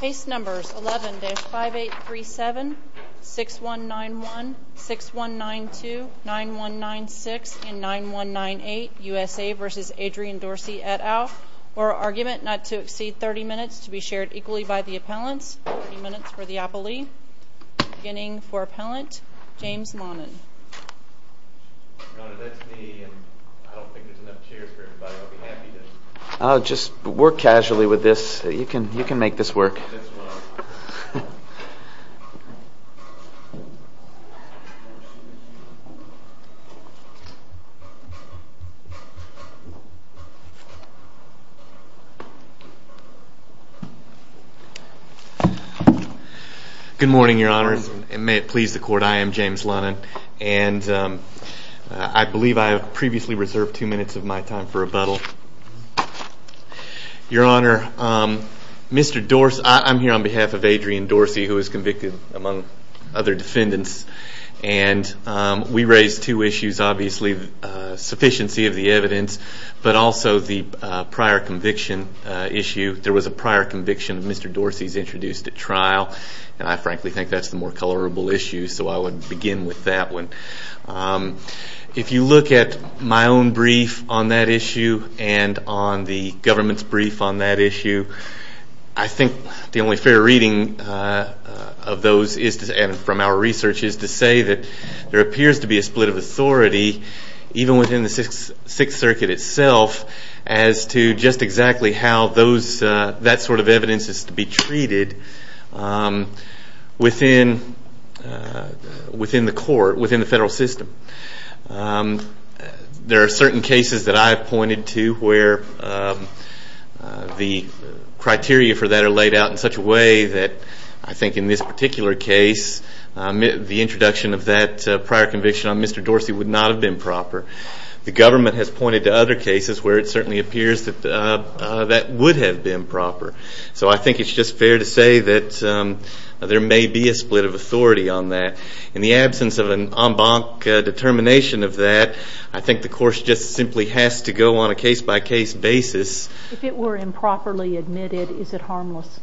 Case numbers 11-5837, 6191, 6192, 9196, and 9198, USA v. Adrian Dorsey, et al. Argument not to exceed 30 minutes to be shared equally by the appellants. 30 minutes for the appellee. Beginning for appellant, James Monin. Your Honor, that's me, and I don't think there's enough chairs for everybody. I'll be happy to... Just work casually with this. You can make this work. Good morning, Your Honor. May it please the Court, I am James Monin. And I believe I have previously reserved two minutes of my time for rebuttal. Your Honor, Mr. Dorsey, I'm here on behalf of Adrian Dorsey, who was convicted among other defendants. And we raised two issues, obviously, sufficiency of the evidence, but also the prior conviction issue. There was a prior conviction of Mr. Dorsey's introduced at trial. And I frankly think that's the more colorable issue, so I would begin with that one. If you look at my own brief on that issue, and on the government's brief on that issue, I think the only fair reading of those, and from our research, is to say that there appears to be a split of authority, even within the Sixth Circuit itself, as to just exactly how that sort of evidence is to be treated within the court, within the federal system. There are certain cases that I have pointed to where the criteria for that are laid out in such a way that, I think in this particular case, the introduction of that prior conviction on Mr. Dorsey would not have been proper. The government has pointed to other cases where it certainly appears that that would have been proper. So I think it's just fair to say that there may be a split of authority on that. In the absence of an en banc determination of that, I think the course just simply has to go on a case-by-case basis. If it were improperly admitted, is it harmless?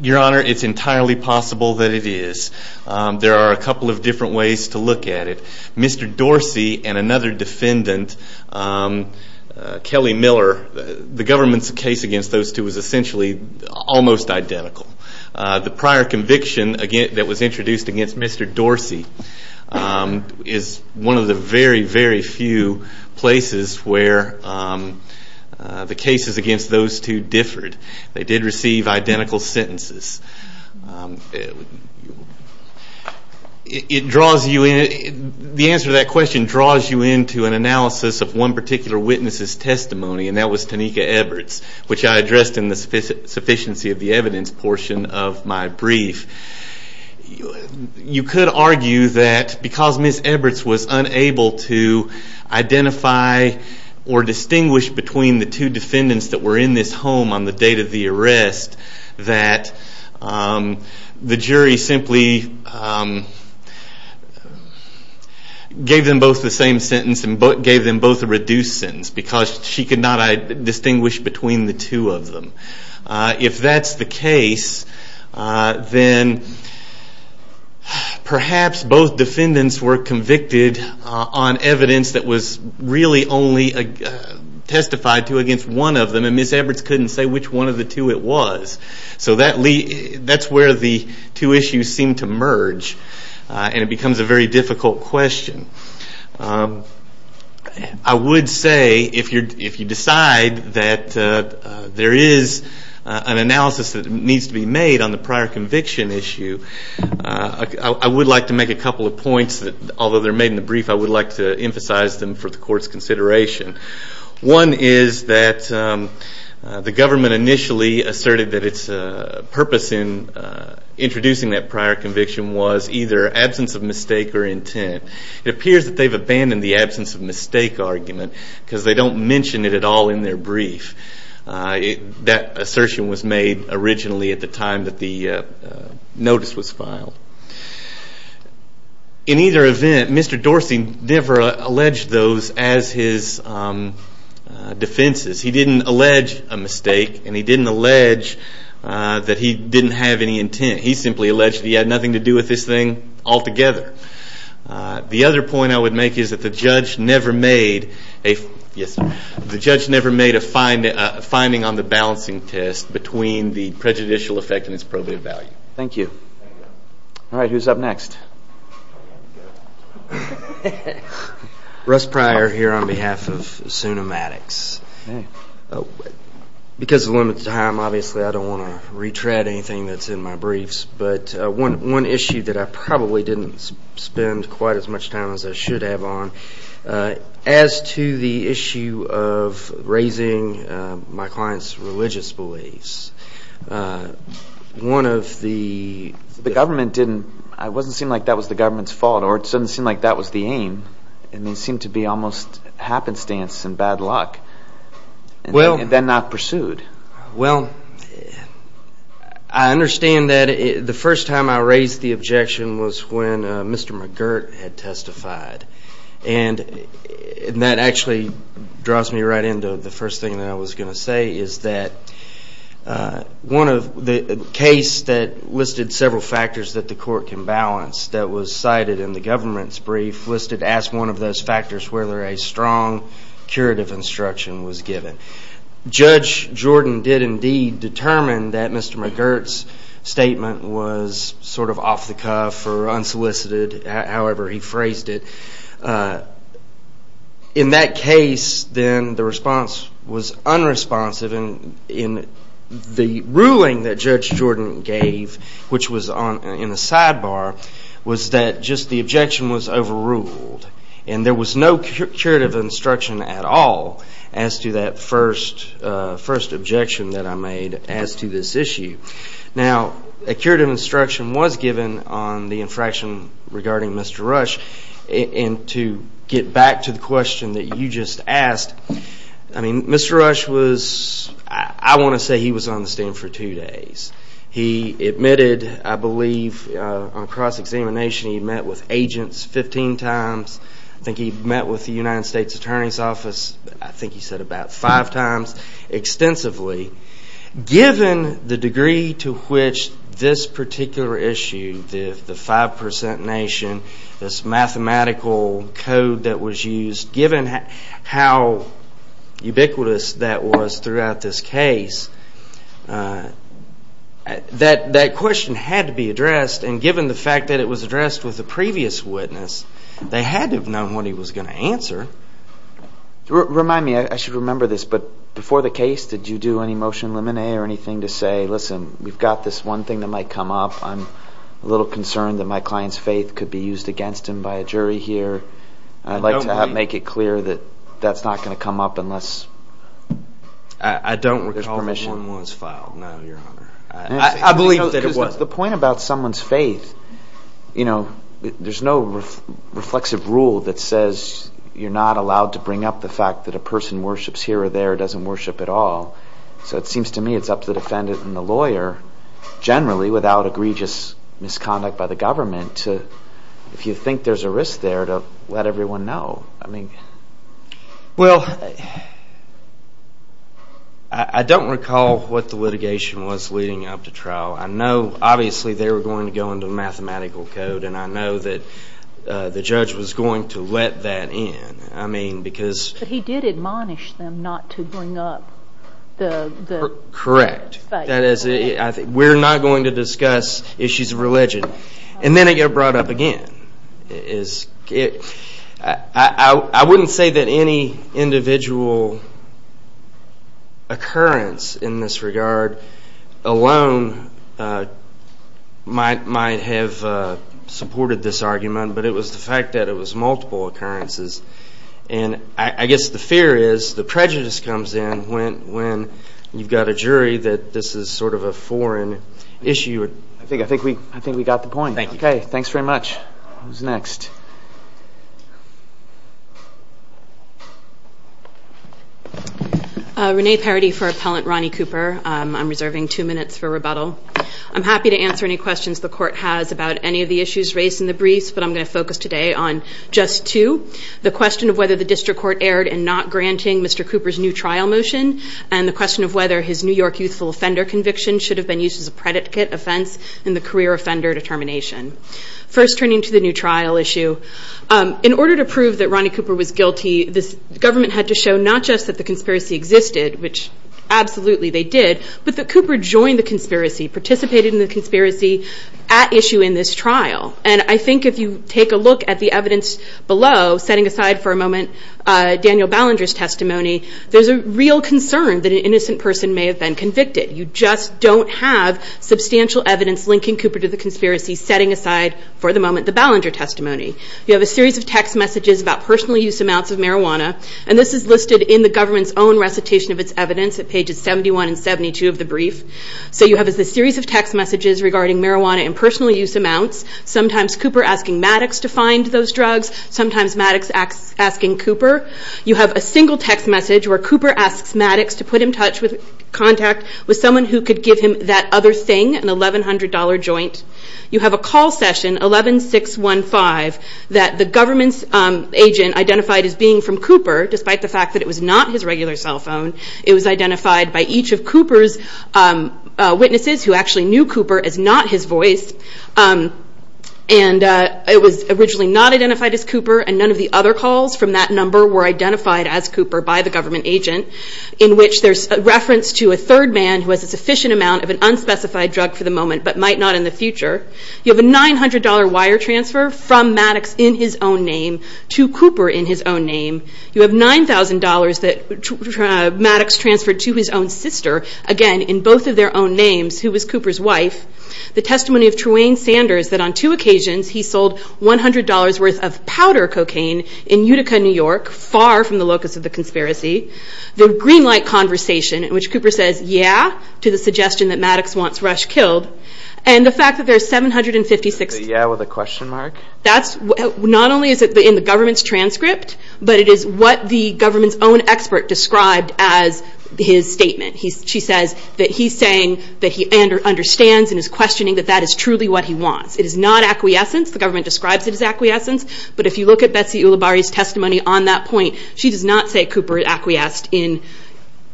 Your Honor, it's entirely possible that it is. There are a couple of different ways to look at it. Mr. Dorsey and another defendant, Kelly Miller, the government's case against those two is essentially almost identical. The prior conviction that was introduced against Mr. Dorsey is one of the very, very few places where the cases against those two differed. They did receive identical sentences. The answer to that question draws you into an analysis of one particular witness's testimony, and that was Tanika Eberts, which I addressed in the sufficiency of the evidence portion of my brief. You could argue that because Ms. Eberts was unable to identify or distinguish between the two defendants that were in this home on the date of the arrest, that the jury simply gave them both the same sentence and gave them both a reduced sentence because she could not distinguish between the two of them. If that's the case, then perhaps both defendants were convicted on evidence that was really only testified to against one of them, and Ms. Eberts couldn't say which one of the two it was. So that's where the two issues seem to merge, and it becomes a very difficult question. I would say if you decide that there is an analysis that needs to be made on the prior conviction issue, I would like to make a couple of points that, although they're made in the brief, I would like to emphasize them for the court's consideration. One is that the government initially asserted that its purpose in introducing that prior conviction was either absence of mistake or intent. It appears that they've abandoned the absence of mistake argument because they don't mention it at all in their brief. That assertion was made originally at the time that the notice was filed. In either event, Mr. Dorsey never alleged those as his defenses. He didn't allege a mistake, and he didn't allege that he didn't have any intent. He simply alleged he had nothing to do with this thing altogether. The other point I would make is that the judge never made a finding on the balancing test between the prejudicial effect and its probative value. Thank you. All right, who's up next? Russ Pryor here on behalf of Zoonomatics. Because of limited time, obviously, I don't want to retread anything that's in my briefs, but one issue that I probably didn't spend quite as much time as I should have on, as to the issue of raising my client's religious beliefs, one of the – The government didn't – it doesn't seem like that was the government's fault, or it doesn't seem like that was the aim, and they seem to be almost happenstance and bad luck, and then not pursued. Well, I understand that the first time I raised the objection was when Mr. McGirt had testified, and that actually draws me right into the first thing that I was going to say, is that the case that listed several factors that the court can balance that was cited in the government's brief listed as one of those factors where a strong curative instruction was given. Judge Jordan did indeed determine that Mr. McGirt's statement was sort of off the cuff or unsolicited, however he phrased it. In that case, then, the response was unresponsive, and the ruling that Judge Jordan gave, which was in a sidebar, was that just the objection was overruled, and there was no curative instruction at all as to that first objection that I made as to this issue. Now, a curative instruction was given on the infraction regarding Mr. Rush, and to get back to the question that you just asked, I mean, Mr. Rush was, I want to say he was on the stand for two days. He admitted, I believe, on cross-examination he met with agents 15 times. I think he met with the United States Attorney's Office, I think he said about five times extensively. Given the degree to which this particular issue, the 5% nation, this mathematical code that was used, given how ubiquitous that was throughout this case, that question had to be addressed, and given the fact that it was addressed with the previous witness, they had to have known what he was going to answer. Remind me, I should remember this, but before the case, did you do any motion limine or anything to say, listen, we've got this one thing that might come up. I'm a little concerned that my client's faith could be used against him by a jury here. I'd like to make it clear that that's not going to come up unless there's permission. I don't recall that one was filed, no, Your Honor. I believe that it was. The point about someone's faith, there's no reflexive rule that says you're not allowed to bring up the fact that a person worships here or there or doesn't worship at all. So it seems to me it's up to the defendant and the lawyer, generally, without egregious misconduct by the government, if you think there's a risk there, to let everyone know. Well, I don't recall what the litigation was leading up to trial. I know, obviously, they were going to go into the mathematical code, and I know that the judge was going to let that in. But he did admonish them not to bring up the faith. Correct. We're not going to discuss issues of religion. And then it got brought up again. I wouldn't say that any individual occurrence in this regard alone might have supported this argument, but it was the fact that it was multiple occurrences. And I guess the fear is the prejudice comes in when you've got a jury that this is sort of a foreign issue. I think we got the point. Thank you. Okay. Thanks very much. Who's next? Renee Parity for Appellant Ronnie Cooper. I'm reserving two minutes for rebuttal. I'm happy to answer any questions the Court has about any of the issues raised in the briefs, but I'm going to focus today on just two. The question of whether the district court erred in not granting Mr. Cooper's new trial motion and the question of whether his New York youthful offender conviction should have been used as a predicate offense in the career offender determination. First, turning to the new trial issue, in order to prove that Ronnie Cooper was guilty, the government had to show not just that the conspiracy existed, which absolutely they did, but that Cooper joined the conspiracy, participated in the conspiracy at issue in this trial. And I think if you take a look at the evidence below, setting aside for a moment Daniel Ballinger's testimony, there's a real concern that an innocent person may have been convicted. You just don't have substantial evidence linking Cooper to the conspiracy, setting aside for the moment the Ballinger testimony. You have a series of text messages about personal use amounts of marijuana, and this is listed in the government's own recitation of its evidence at pages 71 and 72 of the brief. So you have this series of text messages regarding marijuana and personal use amounts, sometimes Cooper asking Maddox to find those drugs, sometimes Maddox asking Cooper. You have a single text message where Cooper asks Maddox to put him in contact with someone who could give him that other thing, an $1,100 joint. You have a call session, 11615, that the government's agent identified as being from Cooper, despite the fact that it was not his regular cell phone. It was identified by each of Cooper's witnesses who actually knew Cooper as not his voice. And it was originally not identified as Cooper, and none of the other calls from that number were identified as Cooper by the government agent, in which there's a reference to a third man who has a sufficient amount of an unspecified drug for the moment but might not in the future. You have a $900 wire transfer from Maddox in his own name to Cooper in his own name. You have $9,000 that Maddox transferred to his own sister, again, in both of their own names, who was Cooper's wife. The testimony of Truane Sanders that on two occasions he sold $100 worth of powder cocaine in Utica, New York, far from the locus of the conspiracy. The green light conversation in which Cooper says, yeah, to the suggestion that Maddox wants Rush killed. And the fact that there's 756... The yeah with a question mark? That's not only in the government's transcript, but it is what the government's own expert described as his statement. She says that he's saying that he understands and is questioning that that is truly what he wants. It is not acquiescence. The government describes it as acquiescence. But if you look at Betsy Ulibarri's testimony on that point, she does not say Cooper acquiesced in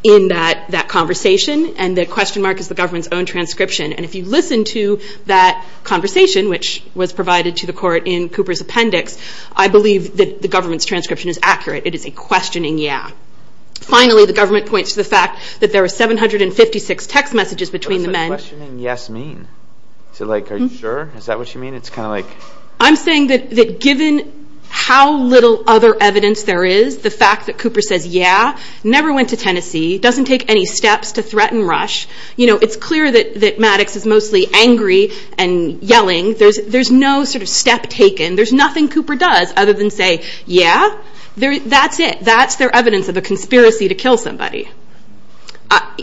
that conversation. And the question mark is the government's own transcription. And if you listen to that conversation, which was provided to the court in Cooper's appendix, I believe that the government's transcription is accurate. It is a questioning yeah. Finally, the government points to the fact that there are 756 text messages between the men. What does questioning yes mean? Is it like, are you sure? Is that what you mean? It's kind of like... I'm saying that given how little other evidence there is, the fact that Cooper says, yeah, never went to Tennessee, doesn't take any steps to threaten Rush. You know, it's clear that Maddox is mostly angry and yelling. There's no sort of step taken. There's nothing Cooper does other than say, yeah. That's it. That's their evidence of a conspiracy to kill somebody.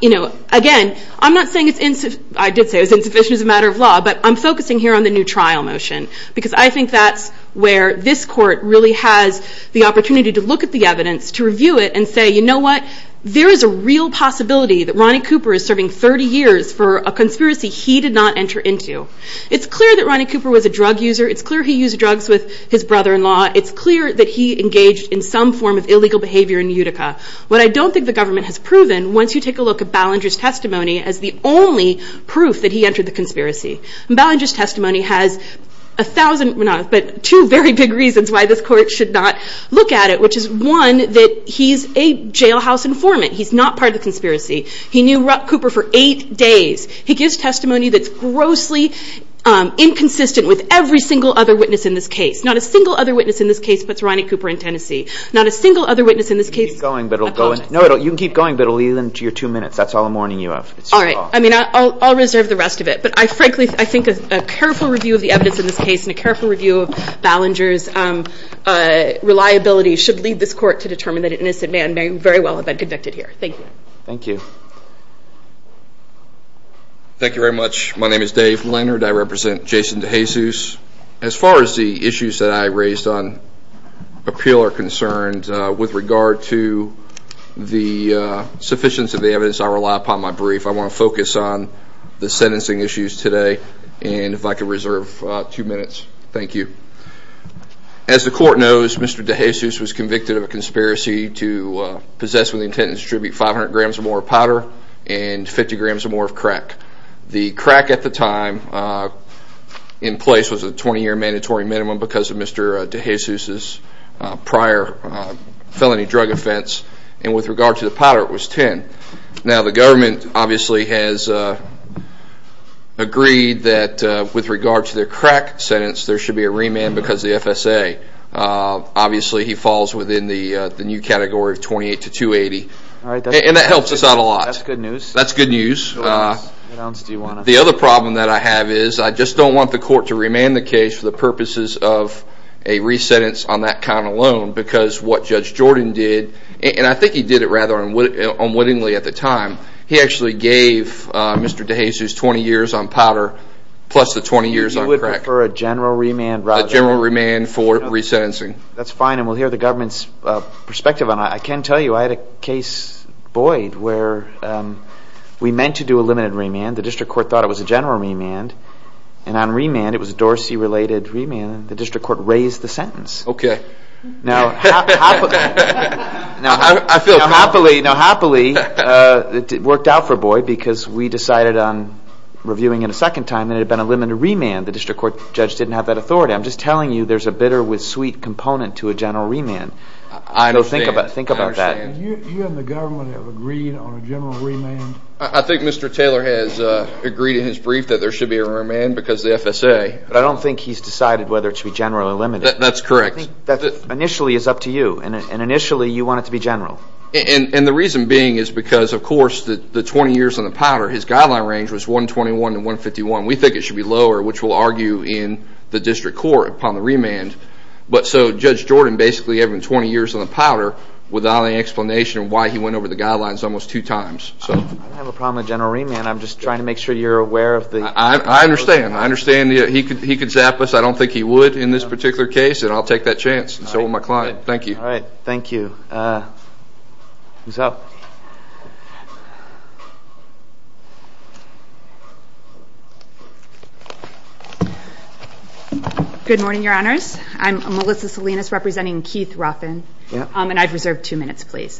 You know, again, I'm not saying it's insufficient. I did say it was insufficient as a matter of law, but I'm focusing here on the new trial motion because I think that's where this court really has the opportunity to look at the evidence, to review it, and say, you know what? There is a real possibility that Ronnie Cooper is serving 30 years for a conspiracy he did not enter into. It's clear that Ronnie Cooper was a drug user. It's clear he used drugs with his brother-in-law. It's clear that he engaged in some form of illegal behavior in Utica. What I don't think the government has proven, once you take a look at Ballinger's testimony as the only proof that he entered the conspiracy, and Ballinger's testimony has a thousand, no, but two very big reasons why this court should not look at it, which is, one, that he's a jailhouse informant. He's not part of the conspiracy. He knew Rupp Cooper for eight days. He gives testimony that's grossly inconsistent with every single other witness in this case, not a single other witness in this case puts Ronnie Cooper in Tennessee, not a single other witness in this case apologizes. You can keep going, but it will lead into your two minutes. That's all the morning you have. All right. I mean, I'll reserve the rest of it, but I frankly think a careful review of the evidence in this case and a careful review of Ballinger's reliability should lead this court to determine that an innocent man may very well have been convicted here. Thank you. Thank you. Thank you very much. My name is Dave Leonard. I represent Jason DeJesus. As far as the issues that I raised on appeal are concerned, with regard to the sufficiency of the evidence I rely upon in my brief, I want to focus on the sentencing issues today. And if I could reserve two minutes. Thank you. As the court knows, Mr. DeJesus was convicted of a conspiracy to possess with the intent to distribute 500 grams or more of powder and 50 grams or more of crack. The crack at the time in place was a 20-year mandatory minimum because of Mr. DeJesus' prior felony drug offense, and with regard to the powder it was 10. Now the government obviously has agreed that with regard to the crack sentence there should be a remand because the FSA. Obviously he falls within the new category of 28 to 280, and that helps us out a lot. That's good news. The other problem that I have is I just don't want the court to remand the case for the purposes of a re-sentence on that count alone because what Judge Jordan did, and I think he did it rather unwittingly at the time, he actually gave Mr. DeJesus 20 years on powder plus the 20 years on crack. You would prefer a general remand? A general remand for re-sentencing. That's fine, and we'll hear the government's perspective on it. I can tell you I had a case, Boyd, where we meant to do a limited remand. The district court thought it was a general remand, and on remand it was a Dorsey-related remand, and the district court raised the sentence. Okay. Now happily it worked out for Boyd because we decided on reviewing it a second time and it had been a limited remand. The district court judge didn't have that authority. I'm just telling you there's a bitter with sweet component to a general remand. I understand. Think about that. You and the government have agreed on a general remand? I think Mr. Taylor has agreed in his brief that there should be a remand because the FSA. But I don't think he's decided whether it should be general or limited. That's correct. I think that initially is up to you, and initially you want it to be general. And the reason being is because, of course, the 20 years on the powder, his guideline range was 121 to 151. We think it should be lower, which we'll argue in the district court upon the remand. But so Judge Jordan basically had been 20 years on the powder without any explanation of why he went over the guidelines almost two times. I don't have a problem with general remand. I'm just trying to make sure you're aware of the... I understand. I understand. He could zap us. I don't think he would in this particular case, and I'll take that chance. So will my client. Thank you. All right. Thank you. Who's up? Good morning, Your Honors. I'm Melissa Salinas representing Keith Ruffin, and I've reserved two minutes, please.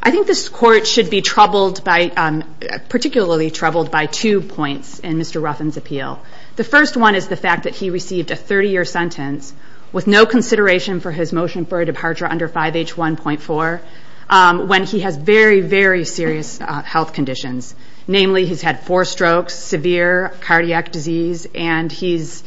I think this court should be troubled by... particularly troubled by two points in Mr. Ruffin's appeal. The first one is the fact that he received a 30-year sentence with no consideration for his motion for a departure under 5H1.4 when he has very, very serious health conditions. Namely, he's had four strokes, severe cardiac disease, and he's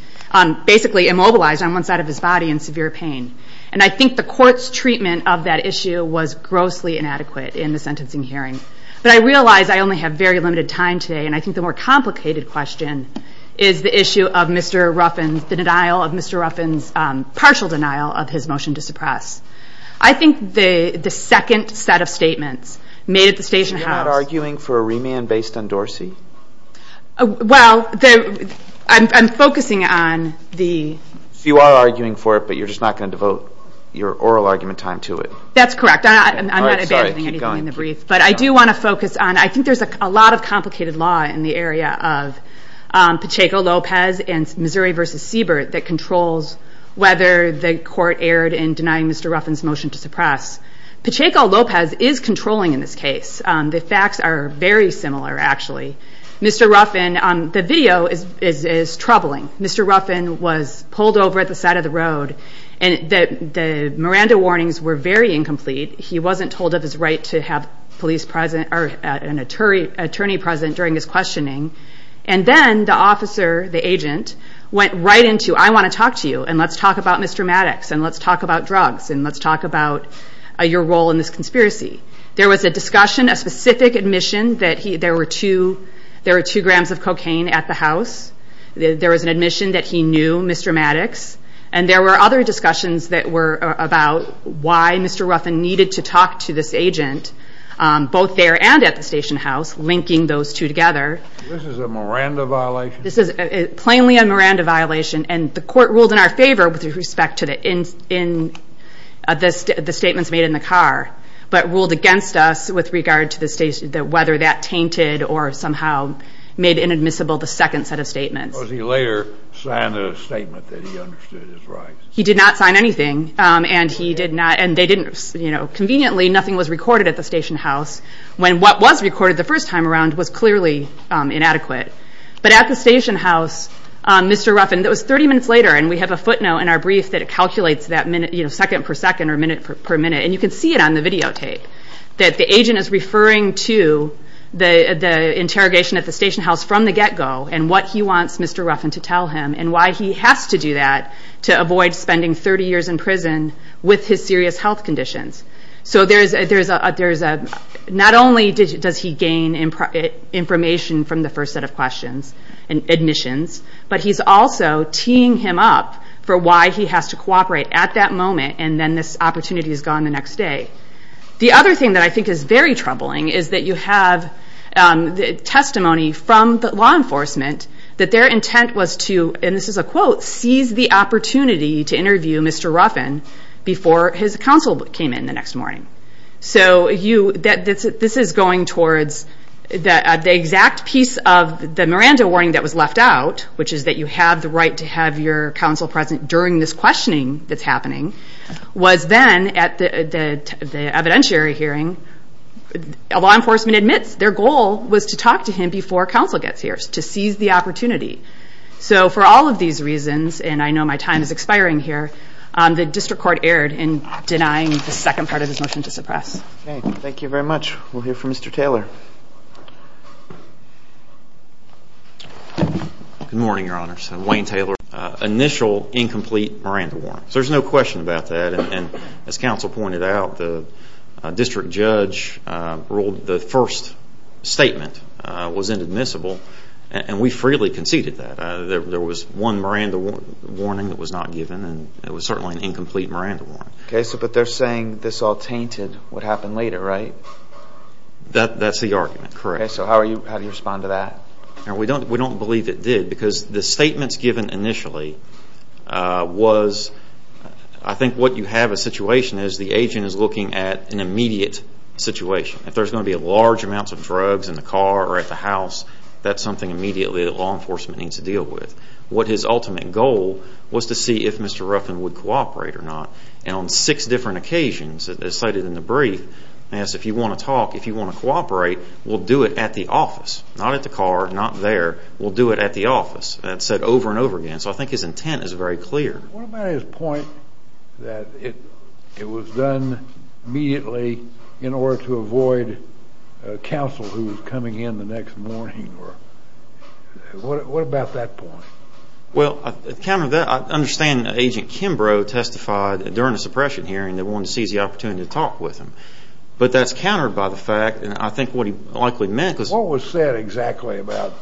basically immobilized on one side of his body in severe pain. And I think the court's treatment of that issue was grossly inadequate in the sentencing hearing. But I realize I only have very limited time today, and I think the more complicated question is the issue of Mr. Ruffin's... the denial of Mr. Ruffin's... partial denial of his motion to suppress. I think the second set of statements made at the station house... You're not arguing for a remand based on Dorsey? Well, I'm focusing on the... So, you are arguing for it, but you're just not going to devote your oral argument time to it? That's correct. I'm not abandoning anything in the brief. But I do want to focus on... I think there's a lot of complicated law in the area of Pacheco-Lopez and Missouri v. Siebert that controls whether the court erred in denying Mr. Ruffin's motion to suppress. Pacheco-Lopez is controlling in this case. The facts are very similar, actually. Mr. Ruffin... the video is troubling. Mr. Ruffin was pulled over at the side of the road. And the Miranda warnings were very incomplete. He wasn't told of his right to have police present... or an attorney present during his questioning. And then, the officer, the agent, went right into... I want to talk to you, and let's talk about Mr. Maddox, and let's talk about drugs, and let's talk about your role in this conspiracy. There was a discussion, a specific admission, that there were two grams of cocaine at the house. There was an admission that he knew Mr. Maddox. And there were other discussions that were about why Mr. Ruffin needed to talk to this agent, both there and at the station house, linking those two together. This is a Miranda violation? This is plainly a Miranda violation. And the court ruled in our favor with respect to the statements made in the car, but ruled against us with regard to whether that tainted or somehow made inadmissible the second set of statements. Because he later signed a statement that he understood his rights. He did not sign anything, and they didn't... Conveniently, nothing was recorded at the station house, when what was recorded the first time around was clearly inadequate. But at the station house, Mr. Ruffin... It was 30 minutes later, and we have a footnote in our brief that calculates that minute... That the agent is referring to the interrogation at the station house from the get-go, and what he wants Mr. Ruffin to tell him, and why he has to do that to avoid spending 30 years in prison with his serious health conditions. So there's a... Not only does he gain information from the first set of questions and admissions, but he's also teeing him up for why he has to cooperate at that moment, and then this opportunity is gone the next day. The other thing that I think is very troubling is that you have testimony from the law enforcement... That their intent was to, and this is a quote, seize the opportunity to interview Mr. Ruffin before his counsel came in the next morning. So, you... This is going towards the exact piece of the Miranda warning that was left out, which is that you have the right to have your counsel present during this questioning that's happening. Was then, at the evidentiary hearing, law enforcement admits their goal was to talk to him before counsel gets here, to seize the opportunity. So, for all of these reasons, and I know my time is expiring here, the district court erred in denying the second part of his motion to suppress. Okay, thank you very much. We'll hear from Mr. Taylor. Good morning, Your Honors. Wayne Taylor. Initial incomplete Miranda warning. So, there's no question about that, and as counsel pointed out, the district judge ruled the first statement was inadmissible, and we freely conceded that. There was one Miranda warning that was not given, and it was certainly an incomplete Miranda warning. Okay, but they're saying this all tainted what happened later, right? That's the argument, correct. Okay, so how do you respond to that? We don't believe it did, because the statements given initially was I think what you have a situation is the agent is looking at an immediate situation. If there's going to be large amounts of drugs in the car or at the house, that's something immediately that law enforcement needs to deal with. What his ultimate goal was to see if Mr. Ruffin would cooperate or not, and on six different occasions, as cited in the brief, he asked if you want to talk, if you want to cooperate, we'll do it at the office, not at the car, not there, we'll do it at the office. That's said over and over again, so I think his intent is very clear. What about his point that it was done immediately in order to avoid counsel who was coming in the next morning? What about that point? Well, I understand that Agent Kimbrough testified during the suppression hearing that wanted to seize the opportunity to talk with him, but that's countered by the fact, and I think what he likely meant was What was said exactly about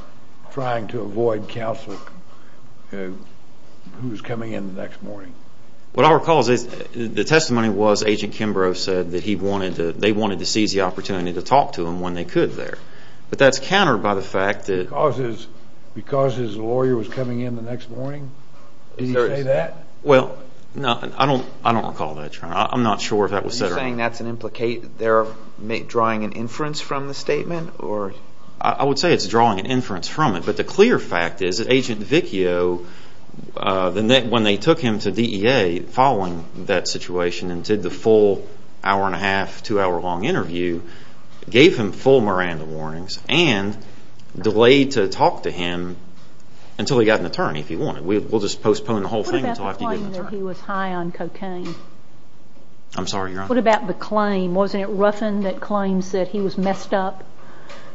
trying to avoid counsel who was coming in the next morning? What I recall is the testimony was that Agent Kimbrough said that they wanted to seize the opportunity to talk to him when they could there, but that's countered by the fact that Because his lawyer was coming in the next morning? Did he say that? Well, I don't recall that. I'm not sure if that was said or not. Are you saying that's drawing an inference from the statement? I would say it's drawing an inference from it, but the clear fact is that Agent Vicchio, when they took him to DEA following that situation and did the full hour-and-a-half, two-hour-long interview, gave him full Miranda warnings and delayed to talk to him until he got an attorney if he wanted. You're saying that he was high on cocaine? I'm sorry, Your Honor. What about the claim? Wasn't it Ruffin that claims that he was messed up? Yes.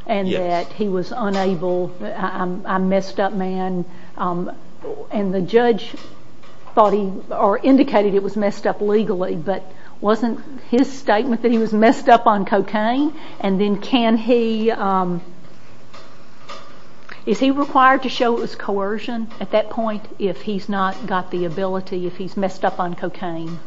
And that he was unable. I'm a messed up man. And the judge indicated it was messed up legally, but wasn't his statement that he was messed up on cocaine? And then is he required to show it was coercion at that point if he's not got the ability, if he's messed up on cocaine?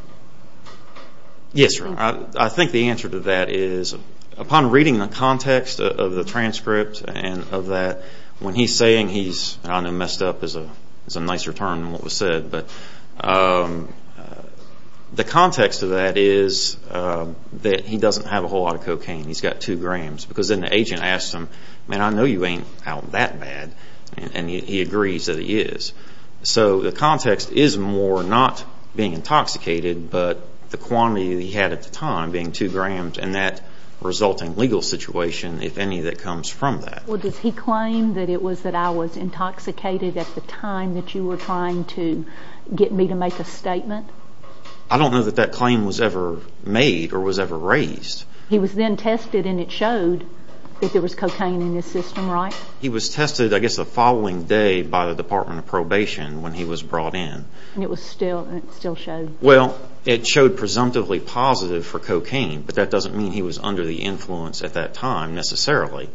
Yes, Your Honor. I think the answer to that is upon reading the context of the transcript and of that, when he's saying he's messed up is a nicer term than what was said. But the context of that is that he doesn't have a whole lot of cocaine. He's got two grams. Because then the agent asked him, Man, I know you ain't out that bad. And he agrees that he is. So the context is more not being intoxicated, but the quantity that he had at the time, being two grams, and that resulting legal situation, if any, that comes from that. Well, does he claim that it was that I was intoxicated at the time that you were trying to get me to make a statement? I don't know that that claim was ever made or was ever raised. He was then tested and it showed that there was cocaine in his system, right? He was tested, I guess, the following day by the Department of Probation when he was brought in. And it still showed? Well, it showed presumptively positive for cocaine, but that doesn't mean he was under the influence at that time necessarily.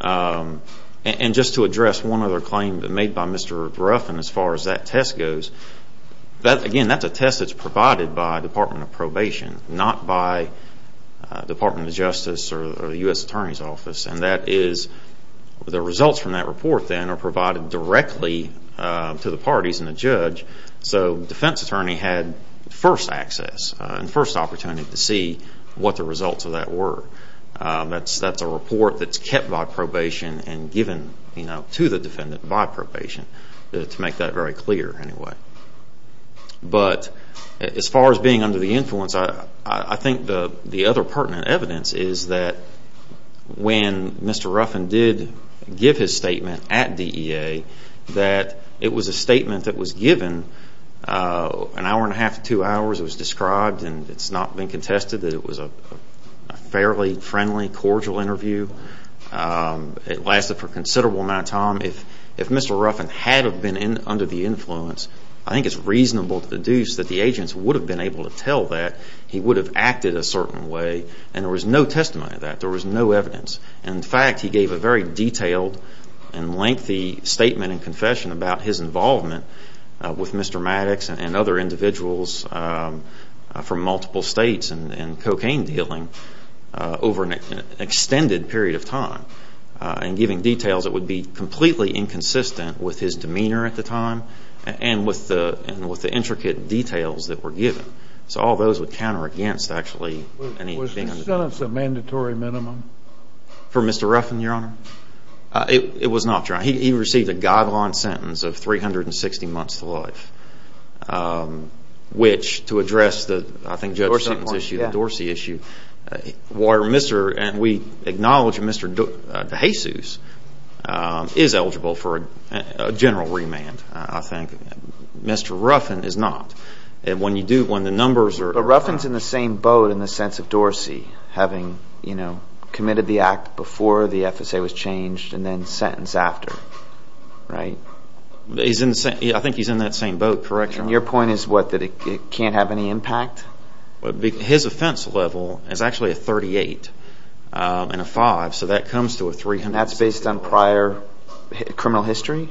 And just to address one other claim made by Mr. Ruffin as far as that test goes, again, that's a test that's provided by the Department of Probation, not by the Department of Justice or the U.S. Attorney's Office. And that is the results from that report, then, are provided directly to the parties and the judge. So the defense attorney had first access and first opportunity to see what the results of that were. That's a report that's kept by probation and given to the defendant by probation, to make that very clear anyway. But as far as being under the influence, I think the other pertinent evidence is that when Mr. Ruffin did give his statement at DEA, that it was a statement that was given an hour and a half to two hours. It was described and it's not been contested that it was a fairly friendly, cordial interview. It lasted for a considerable amount of time. If Mr. Ruffin had been under the influence, I think it's reasonable to deduce that the agents would have been able to tell that. He would have acted a certain way. And there was no testimony of that. There was no evidence. In fact, he gave a very detailed and lengthy statement and confession about his involvement with Mr. Maddox and other individuals from multiple states in cocaine dealing over an extended period of time. And giving details that would be completely inconsistent with his demeanor at the time and with the intricate details that were given. So all those would counter against, actually. Was the sentence a mandatory minimum? For Mr. Ruffin, Your Honor? It was not, Your Honor. He received a guideline sentence of 360 months to life, which, to address the, I think, Judge Seaton's issue, the Dorsey issue, where we acknowledge Mr. DeJesus is eligible for a general remand, I think. Mr. Ruffin is not. When the numbers are... But Ruffin's in the same boat in the sense of Dorsey having committed the act before the FSA was changed and then sentenced after, right? I think he's in that same boat, correct, Your Honor? And your point is what, that it can't have any impact? His offense level is actually a 38 and a 5, so that comes to a 300. And that's based on prior criminal history?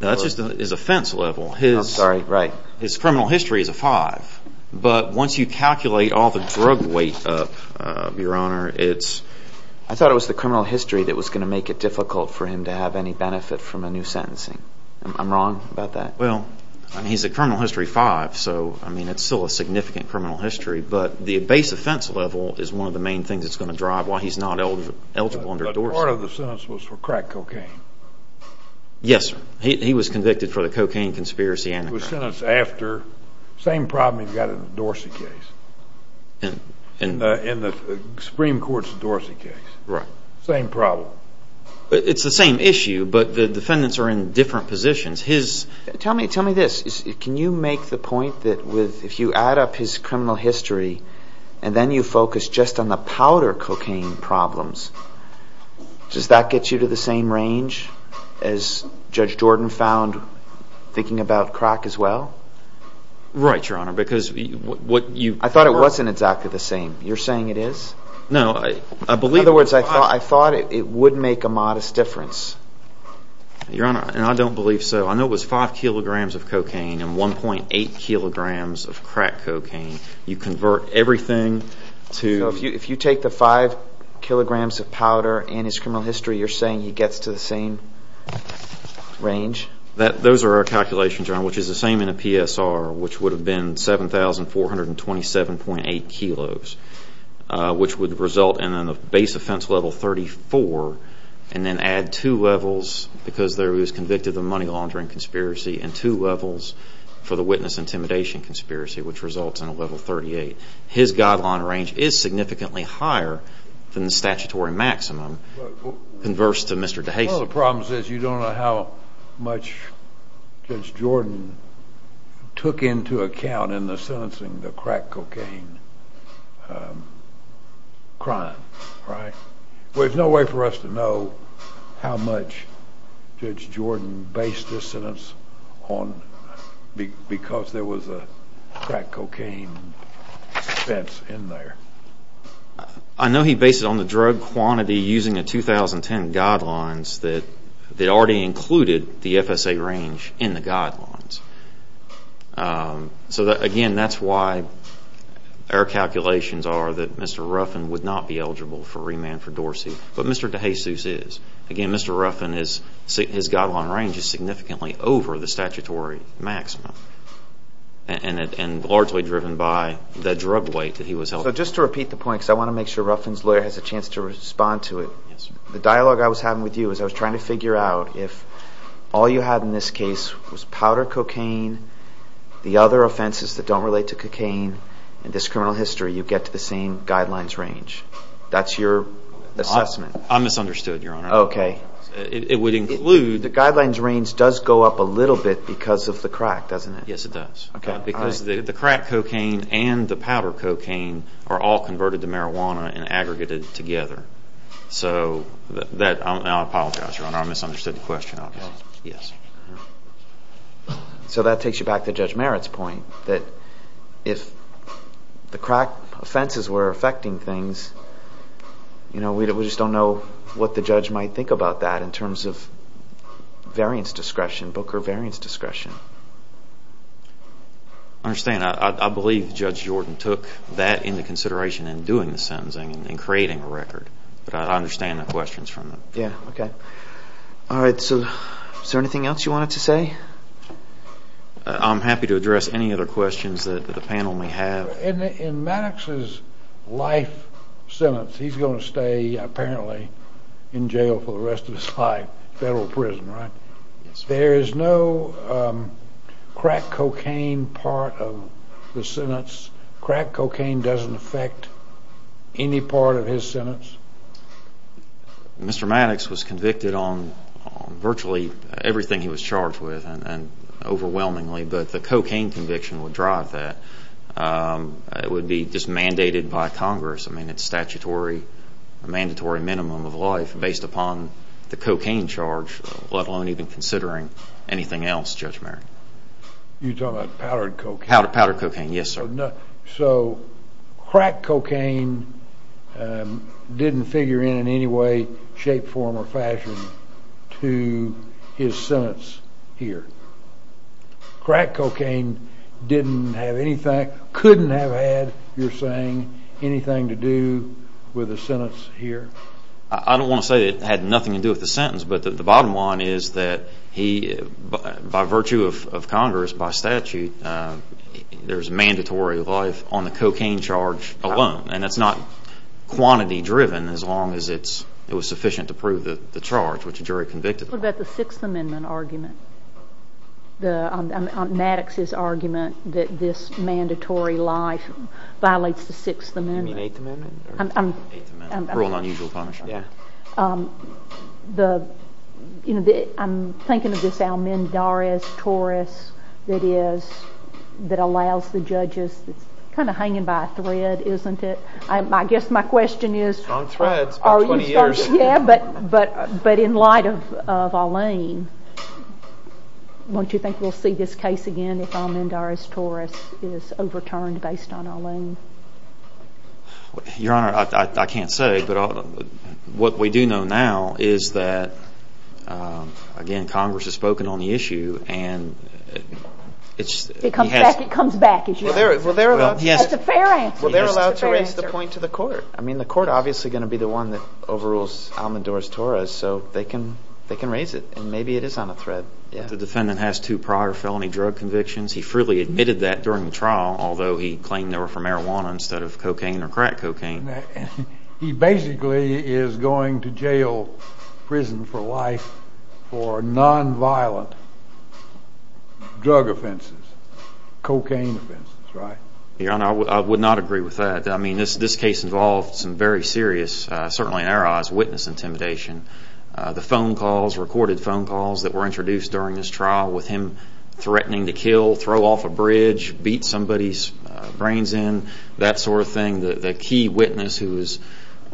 No, that's just his offense level. Oh, sorry, right. His criminal history is a 5. But once you calculate all the drug weight up, Your Honor, it's... I thought it was the criminal history that was going to make it difficult for him to have any benefit from a new sentencing. I'm wrong about that? Well, he's a criminal history 5, so it's still a significant criminal history. But the base offense level is one of the main things that's going to drive why he's not eligible under Dorsey. But part of the sentence was for crack cocaine? Yes, sir. He was convicted for the cocaine conspiracy and the crack. He was sentenced after. Same problem he's got in the Dorsey case, in the Supreme Court's Dorsey case. Right. Same problem. It's the same issue, but the defendants are in different positions. His... Tell me this. Can you make the point that if you add up his criminal history and then you focus just on the powder cocaine problems, does that get you to the same range as Judge Jordan found thinking about crack as well? Right, Your Honor, because what you... I thought it wasn't exactly the same. You're saying it is? No, I believe... In other words, I thought it would make a modest difference. Your Honor, and I don't believe so. I know it was 5 kilograms of cocaine and 1.8 kilograms of crack cocaine. You convert everything to... So if you take the 5 kilograms of powder and his criminal history, you're saying he gets to the same range? Those are our calculations, Your Honor, which is the same in a PSR, which would have been 7,427.8 kilos, which would result in a base offense level 34 and then add two levels because he was convicted of money laundering conspiracy and two levels for the witness intimidation conspiracy, which results in a level 38. His guideline range is significantly higher than the statutory maximum converse to Mr. DeHasen. Well, the problem is you don't know how much Judge Jordan took into account in the sentencing the crack cocaine crime, right? Well, there's no way for us to know how much Judge Jordan based this sentence on because there was a crack cocaine expense in there. I know he based it on the drug quantity using the 2010 guidelines that already included the FSA range in the guidelines. So, again, that's why our calculations are that Mr. Ruffin would not be eligible for remand for Dorsey, but Mr. DeHasen is. Again, Mr. Ruffin, his guideline range is significantly over the statutory maximum and largely driven by the drug weight that he was held to. So just to repeat the point because I want to make sure Ruffin's lawyer has a chance to respond to it. The dialogue I was having with you is I was trying to figure out if all you had in this case was powder cocaine, the other offenses that don't relate to cocaine, in this criminal history you get to the same guidelines range. That's your assessment. I misunderstood, Your Honor. Okay. It would include... The guidelines range does go up a little bit because of the crack, doesn't it? Yes, it does. Okay. Because the crack cocaine and the powder cocaine are all converted to marijuana and aggregated together. So I apologize, Your Honor. I misunderstood the question, obviously. Okay. Yes. So that takes you back to Judge Merritt's point that if the crack offenses were affecting things, we just don't know what the judge might think about that in terms of variance discretion, Booker variance discretion. I understand. I believe Judge Jordan took that into consideration in doing the sentencing and creating a record. But I understand the questions from the... Yes, okay. All right. So is there anything else you wanted to say? I'm happy to address any other questions that the panel may have. In Maddox's life sentence, he's going to stay apparently in jail for the rest of his life, federal prison, right? Yes, sir. There is no crack cocaine part of the sentence? Crack cocaine doesn't affect any part of his sentence? Mr. Maddox was convicted on virtually everything he was charged with and overwhelmingly, but the cocaine conviction would drive that. It would be just mandated by Congress. I mean, it's statutory, a mandatory minimum of life based upon the cocaine charge, let alone even considering anything else, Judge Merritt. You're talking about powdered cocaine? Powdered cocaine, yes, sir. So crack cocaine didn't figure in in any way, shape, form, or fashion to his sentence here? Crack cocaine couldn't have had, you're saying, anything to do with the sentence here? I don't want to say it had nothing to do with the sentence, but the bottom line is that by virtue of Congress, by statute, there's mandatory life on the cocaine charge alone, and that's not quantity driven as long as it was sufficient to prove the charge, which the jury convicted him of. What about the Sixth Amendment argument, Maddox's argument that this mandatory life violates the Sixth Amendment? You mean Eighth Amendment? Eighth Amendment, cruel and unusual punishment. I'm thinking of this Almendarez-Torres that allows the judges – it's kind of hanging by a thread, isn't it? I guess my question is – It's on thread. It's been 20 years. But in light of Alain, don't you think we'll see this case again if Almendarez-Torres is overturned based on Alain? Your Honor, I can't say, but what we do know now is that, again, Congress has spoken on the issue and it's – It comes back. It comes back. Well, they're allowed to raise the point to the court. I mean, the court is obviously going to be the one that overrules Almendarez-Torres, so they can raise it, and maybe it is on a thread. The defendant has two prior felony drug convictions. He freely admitted that during the trial, although he claimed they were for marijuana instead of cocaine or crack cocaine. He basically is going to jail, prison for life, for nonviolent drug offenses, cocaine offenses, right? Your Honor, I would not agree with that. I mean, this case involved some very serious, certainly in our eyes, witness intimidation. The phone calls, recorded phone calls that were introduced during this trial with him threatening to kill, throw off a bridge, beat somebody's brains in, that sort of thing. The key witness who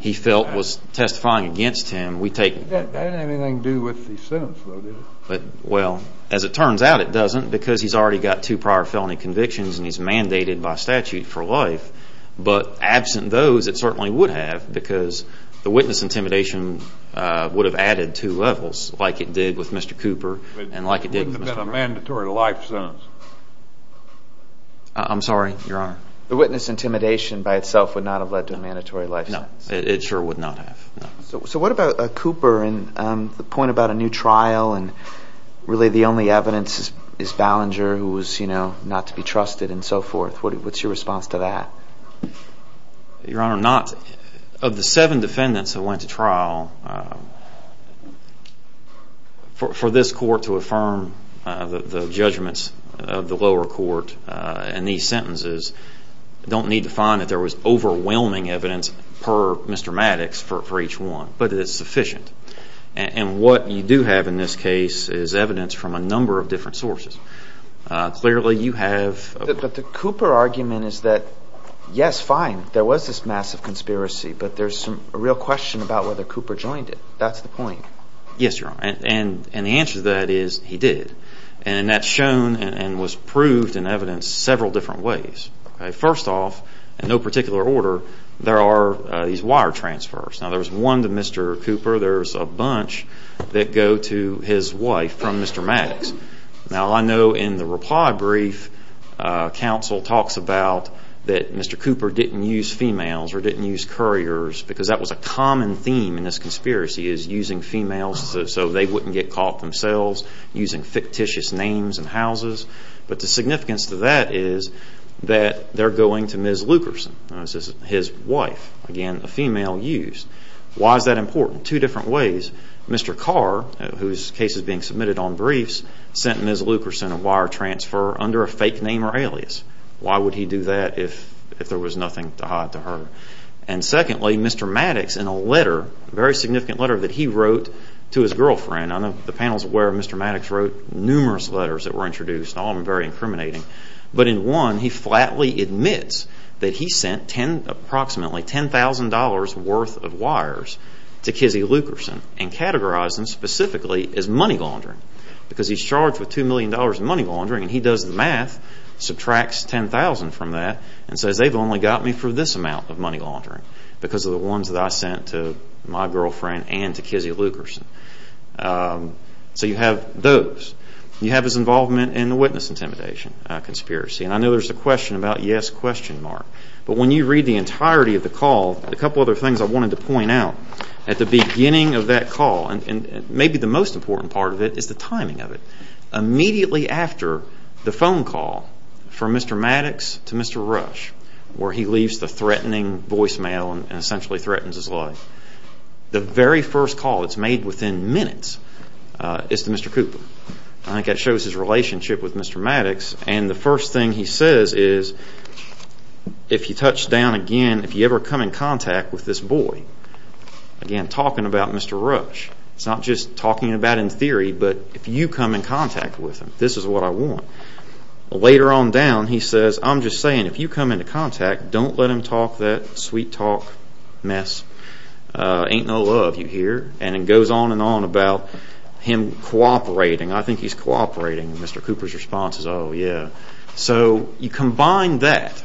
he felt was testifying against him, we take – That didn't have anything to do with the sentence, though, did it? Well, as it turns out, it doesn't, because he's already got two prior felony convictions and he's mandated by statute for life. But absent those, it certainly would have, because the witness intimidation would have added two levels, like it did with Mr. Cooper and like it did with Mr. – It wouldn't have been a mandatory life sentence. I'm sorry, Your Honor? The witness intimidation by itself would not have led to a mandatory life sentence. No, it sure would not have. So what about Cooper and the point about a new trial and really the only evidence is Ballinger, who was not to be trusted and so forth? What's your response to that? Your Honor, not – of the seven defendants who went to trial, for this court to affirm the judgments of the lower court in these sentences, you don't need to find that there was overwhelming evidence per Mr. Maddox for each one, but it's sufficient. And what you do have in this case is evidence from a number of different sources. Clearly, you have – But the Cooper argument is that, yes, fine, there was this massive conspiracy, but there's a real question about whether Cooper joined it. That's the point. Yes, Your Honor, and the answer to that is he did. And that's shown and was proved in evidence several different ways. First off, in no particular order, there are these wire transfers. Now, there's one to Mr. Cooper. There's a bunch that go to his wife from Mr. Maddox. Now, I know in the reply brief, counsel talks about that Mr. Cooper didn't use females or didn't use couriers because that was a common theme in this conspiracy, is using females so they wouldn't get caught themselves, using fictitious names and houses. But the significance to that is that they're going to Ms. Lukerson, his wife, again, a female use. Why is that important? Two different ways. Mr. Carr, whose case is being submitted on briefs, sent Ms. Lukerson a wire transfer under a fake name or alias. Why would he do that if there was nothing to hide to her? And secondly, Mr. Maddox, in a letter, a very significant letter that he wrote to his girlfriend, I know the panel is aware Mr. Maddox wrote numerous letters that were introduced, all of them very incriminating, but in one he flatly admits that he sent approximately $10,000 worth of wires to Kizzy Lukerson and categorized them specifically as money laundering because he's charged with $2 million in money laundering and he does the math, subtracts $10,000 from that, and says they've only got me for this amount of money laundering because of the ones that I sent to my girlfriend and to Kizzy Lukerson. So you have those. You have his involvement in the witness intimidation conspiracy. And I know there's a question about yes question mark, but when you read the entirety of the call, a couple other things I wanted to point out. At the beginning of that call, and maybe the most important part of it is the timing of it, immediately after the phone call from Mr. Maddox to Mr. Rush, where he leaves the threatening voicemail and essentially threatens his life, the very first call that's made within minutes is to Mr. Cooper. I think that shows his relationship with Mr. Maddox, and the first thing he says is, if you touch down again, if you ever come in contact with this boy, again, talking about Mr. Rush, it's not just talking about in theory, but if you come in contact with him, this is what I want. Later on down, he says, I'm just saying if you come into contact, don't let him talk that sweet talk mess. Ain't no love, you hear? And it goes on and on about him cooperating. I think he's cooperating. Mr. Cooper's response is, oh yeah. So you combine that,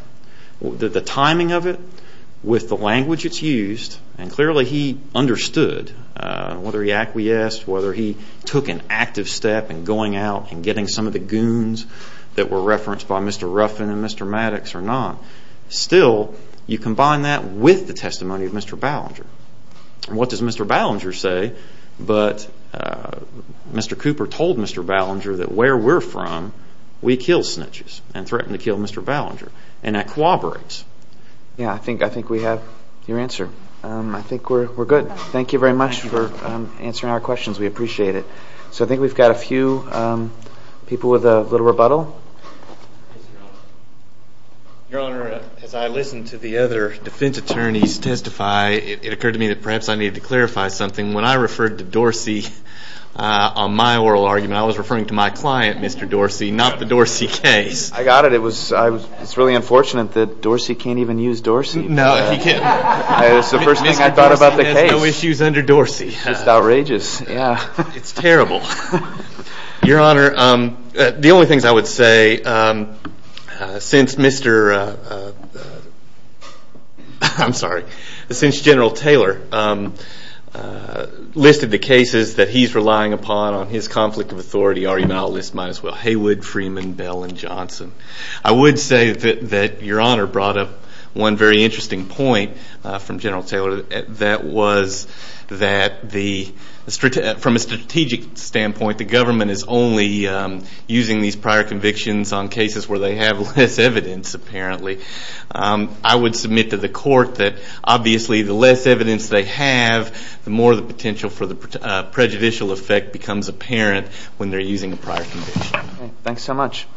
the timing of it, with the language it's used, and clearly he understood whether he acquiesced, whether he took an active step in going out and getting some of the goons that were referenced by Mr. Ruffin and Mr. Maddox or not. Still, you combine that with the testimony of Mr. Ballinger. What does Mr. Ballinger say? But Mr. Cooper told Mr. Ballinger that where we're from, we kill snitches and threaten to kill Mr. Ballinger, and that cooperates. Yeah, I think we have your answer. I think we're good. Thank you very much for answering our questions. We appreciate it. So I think we've got a few people with a little rebuttal. Your Honor, as I listened to the other defense attorneys testify, it occurred to me that perhaps I needed to clarify something. When I referred to Dorsey on my oral argument, I was referring to my client, Mr. Dorsey, not the Dorsey case. I got it. It's really unfortunate that Dorsey can't even use Dorsey. No, he can't. It's the first thing I thought about the case. Mr. Dorsey has no issues under Dorsey. It's outrageous. It's terrible. Your Honor, the only things I would say since Mr. – I'm sorry, since General Taylor listed the cases that he's relying upon on his conflict of authority, Haywood, Freeman, Bell, and Johnson. I would say that Your Honor brought up one very interesting point from General Taylor. That was that from a strategic standpoint, the government is only using these prior convictions on cases where they have less evidence, apparently. I would submit to the court that, obviously, the less evidence they have, the more the potential for the prejudicial effect becomes apparent when they're using a prior conviction. Thanks so much.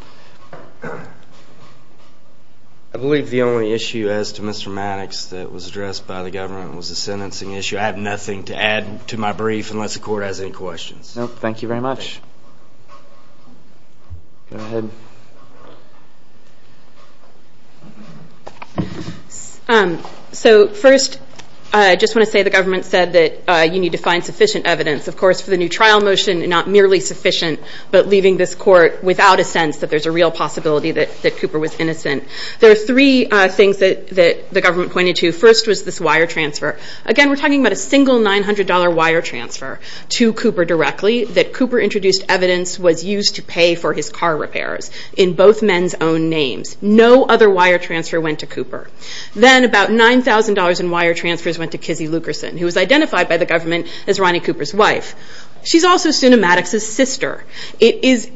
I believe the only issue as to Mr. Maddox that was addressed by the government was the sentencing issue. I have nothing to add to my brief unless the court has any questions. No, thank you very much. Go ahead. First, I just want to say the government said that you need to find sufficient evidence. Of course, for the new trial motion, not merely sufficient, but leaving this court without a sense that there's a real possibility that Cooper was innocent. There are three things that the government pointed to. First was this wire transfer. Again, we're talking about a single $900 wire transfer to Cooper directly that Cooper introduced evidence was used to pay for his car repairs in both men's own names. No other wire transfer went to Cooper. Then about $9,000 in wire transfers went to Kizzy Lukerson, who was identified by the government as Ronnie Cooper's wife. She's also soon a Maddox's sister. It is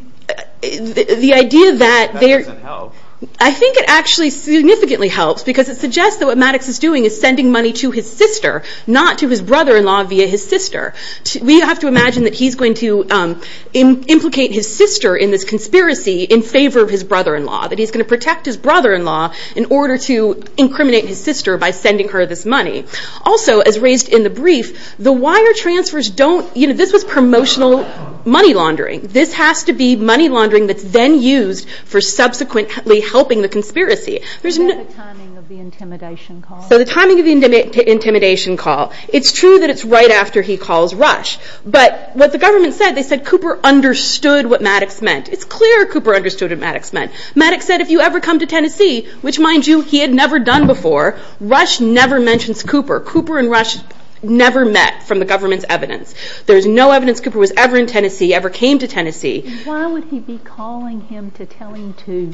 the idea that there... That doesn't help. I think it actually significantly helps because it suggests that what Maddox is doing is sending money to his sister, not to his brother-in-law via his sister. We have to imagine that he's going to implicate his sister in this conspiracy in favor of his brother-in-law, that he's going to protect his brother-in-law in order to incriminate his sister by sending her this money. Also, as raised in the brief, the wire transfers don't... You know, this was promotional money laundering. This has to be money laundering that's then used for subsequently helping the conspiracy. There's no... Is that the timing of the intimidation call? So the timing of the intimidation call. It's true that it's right after he calls Rush. But what the government said, they said Cooper understood what Maddox meant. It's clear Cooper understood what Maddox meant. Maddox said, if you ever come to Tennessee, which, mind you, he had never done before, Rush never mentions Cooper. Cooper and Rush never met from the government's evidence. There's no evidence Cooper was ever in Tennessee, ever came to Tennessee. Why would he be calling him to tell him to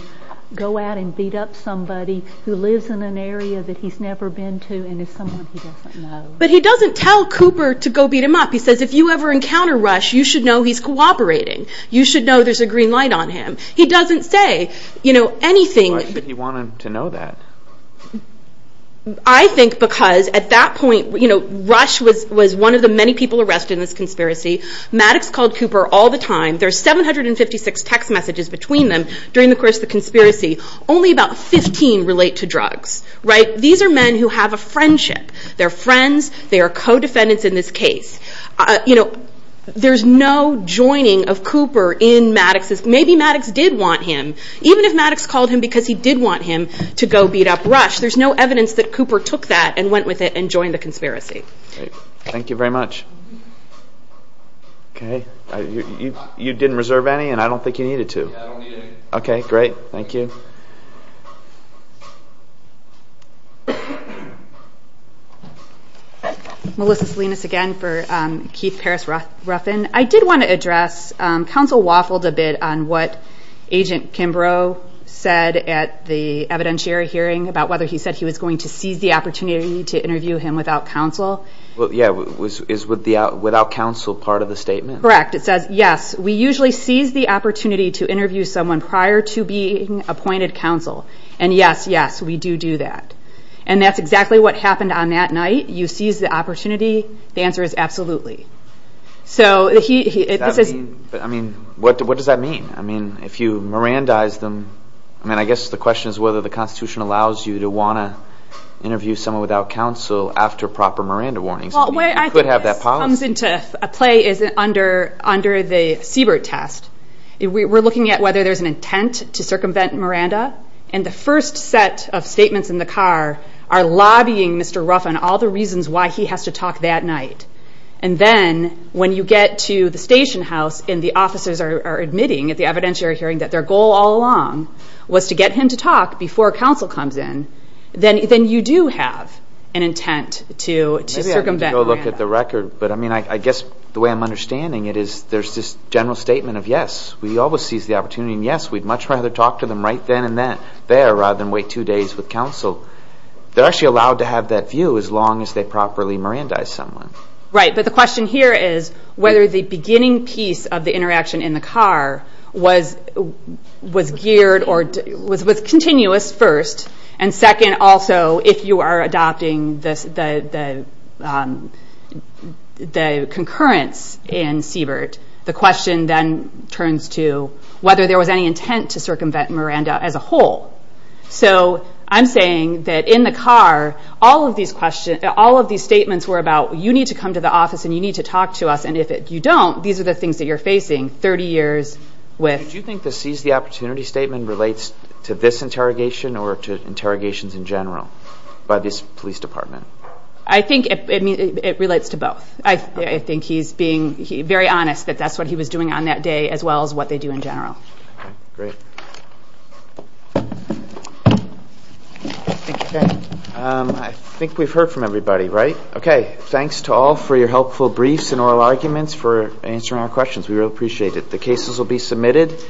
go out and beat up somebody who lives in an area that he's never been to and is someone he doesn't know? But he doesn't tell Cooper to go beat him up. He says, if you ever encounter Rush, you should know he's cooperating. You should know there's a green light on him. He doesn't say anything... Why should he want him to know that? I think because, at that point, Rush was one of the many people arrested in this conspiracy. Maddox called Cooper all the time. There's 756 text messages between them during the course of the conspiracy. Only about 15 relate to drugs. These are men who have a friendship. They're friends. They are co-defendants in this case. There's no joining of Cooper in Maddox's... Maybe Maddox did want him. Even if Maddox called him because he did want him to go beat up Rush, there's no evidence that Cooper took that and went with it and joined the conspiracy. Thank you very much. Okay. You didn't reserve any, and I don't think you needed to. I don't need any. Okay, great. Thank you. Melissa Salinas again for Keith Paris-Ruffin. I did want to address... Counsel waffled a bit on what Agent Kimbrough said at the evidentiary hearing about whether he said he was going to seize the opportunity to interview him without counsel. Yeah, is without counsel part of the statement? Correct. It says, yes, we usually seize the opportunity to interview someone prior to being appointed counsel. And, yes, yes, we do do that. And that's exactly what happened on that night. You seize the opportunity. The answer is absolutely. I mean, what does that mean? I mean, if you Mirandize them, I mean, I guess the question is whether the Constitution allows you to want to interview someone without counsel after proper Miranda warnings. You could have that policy. I think this comes into play under the Siebert test. We're looking at whether there's an intent to circumvent Miranda. And the first set of statements in the car are lobbying Mr. Ruffin, all the reasons why he has to talk that night. And then when you get to the station house and the officers are admitting at the evidentiary hearing that their goal all along was to get him to talk before counsel comes in, then you do have an intent to circumvent Miranda. Maybe I need to go look at the record, but, I mean, I guess the way I'm understanding it is there's this general statement of, yes, we always seize the opportunity, I mean, yes, we'd much rather talk to them right then and there rather than wait two days with counsel. They're actually allowed to have that view as long as they properly Mirandize someone. Right, but the question here is whether the beginning piece of the interaction in the car was geared or was continuous first, and second, also, if you are adopting the concurrence in Siebert, the question then turns to whether there was any intent to circumvent Miranda as a whole. So I'm saying that in the car, all of these statements were about you need to come to the office and you need to talk to us, and if you don't, these are the things that you're facing 30 years with. Do you think the seize the opportunity statement relates to this interrogation or to interrogations in general by this police department? I think it relates to both. I think he's being very honest that that's what he was doing on that day as well as what they do in general. Great. I think we've heard from everybody, right? Okay, thanks to all for your helpful briefs and oral arguments for answering our questions. We really appreciate it. The cases will be submitted.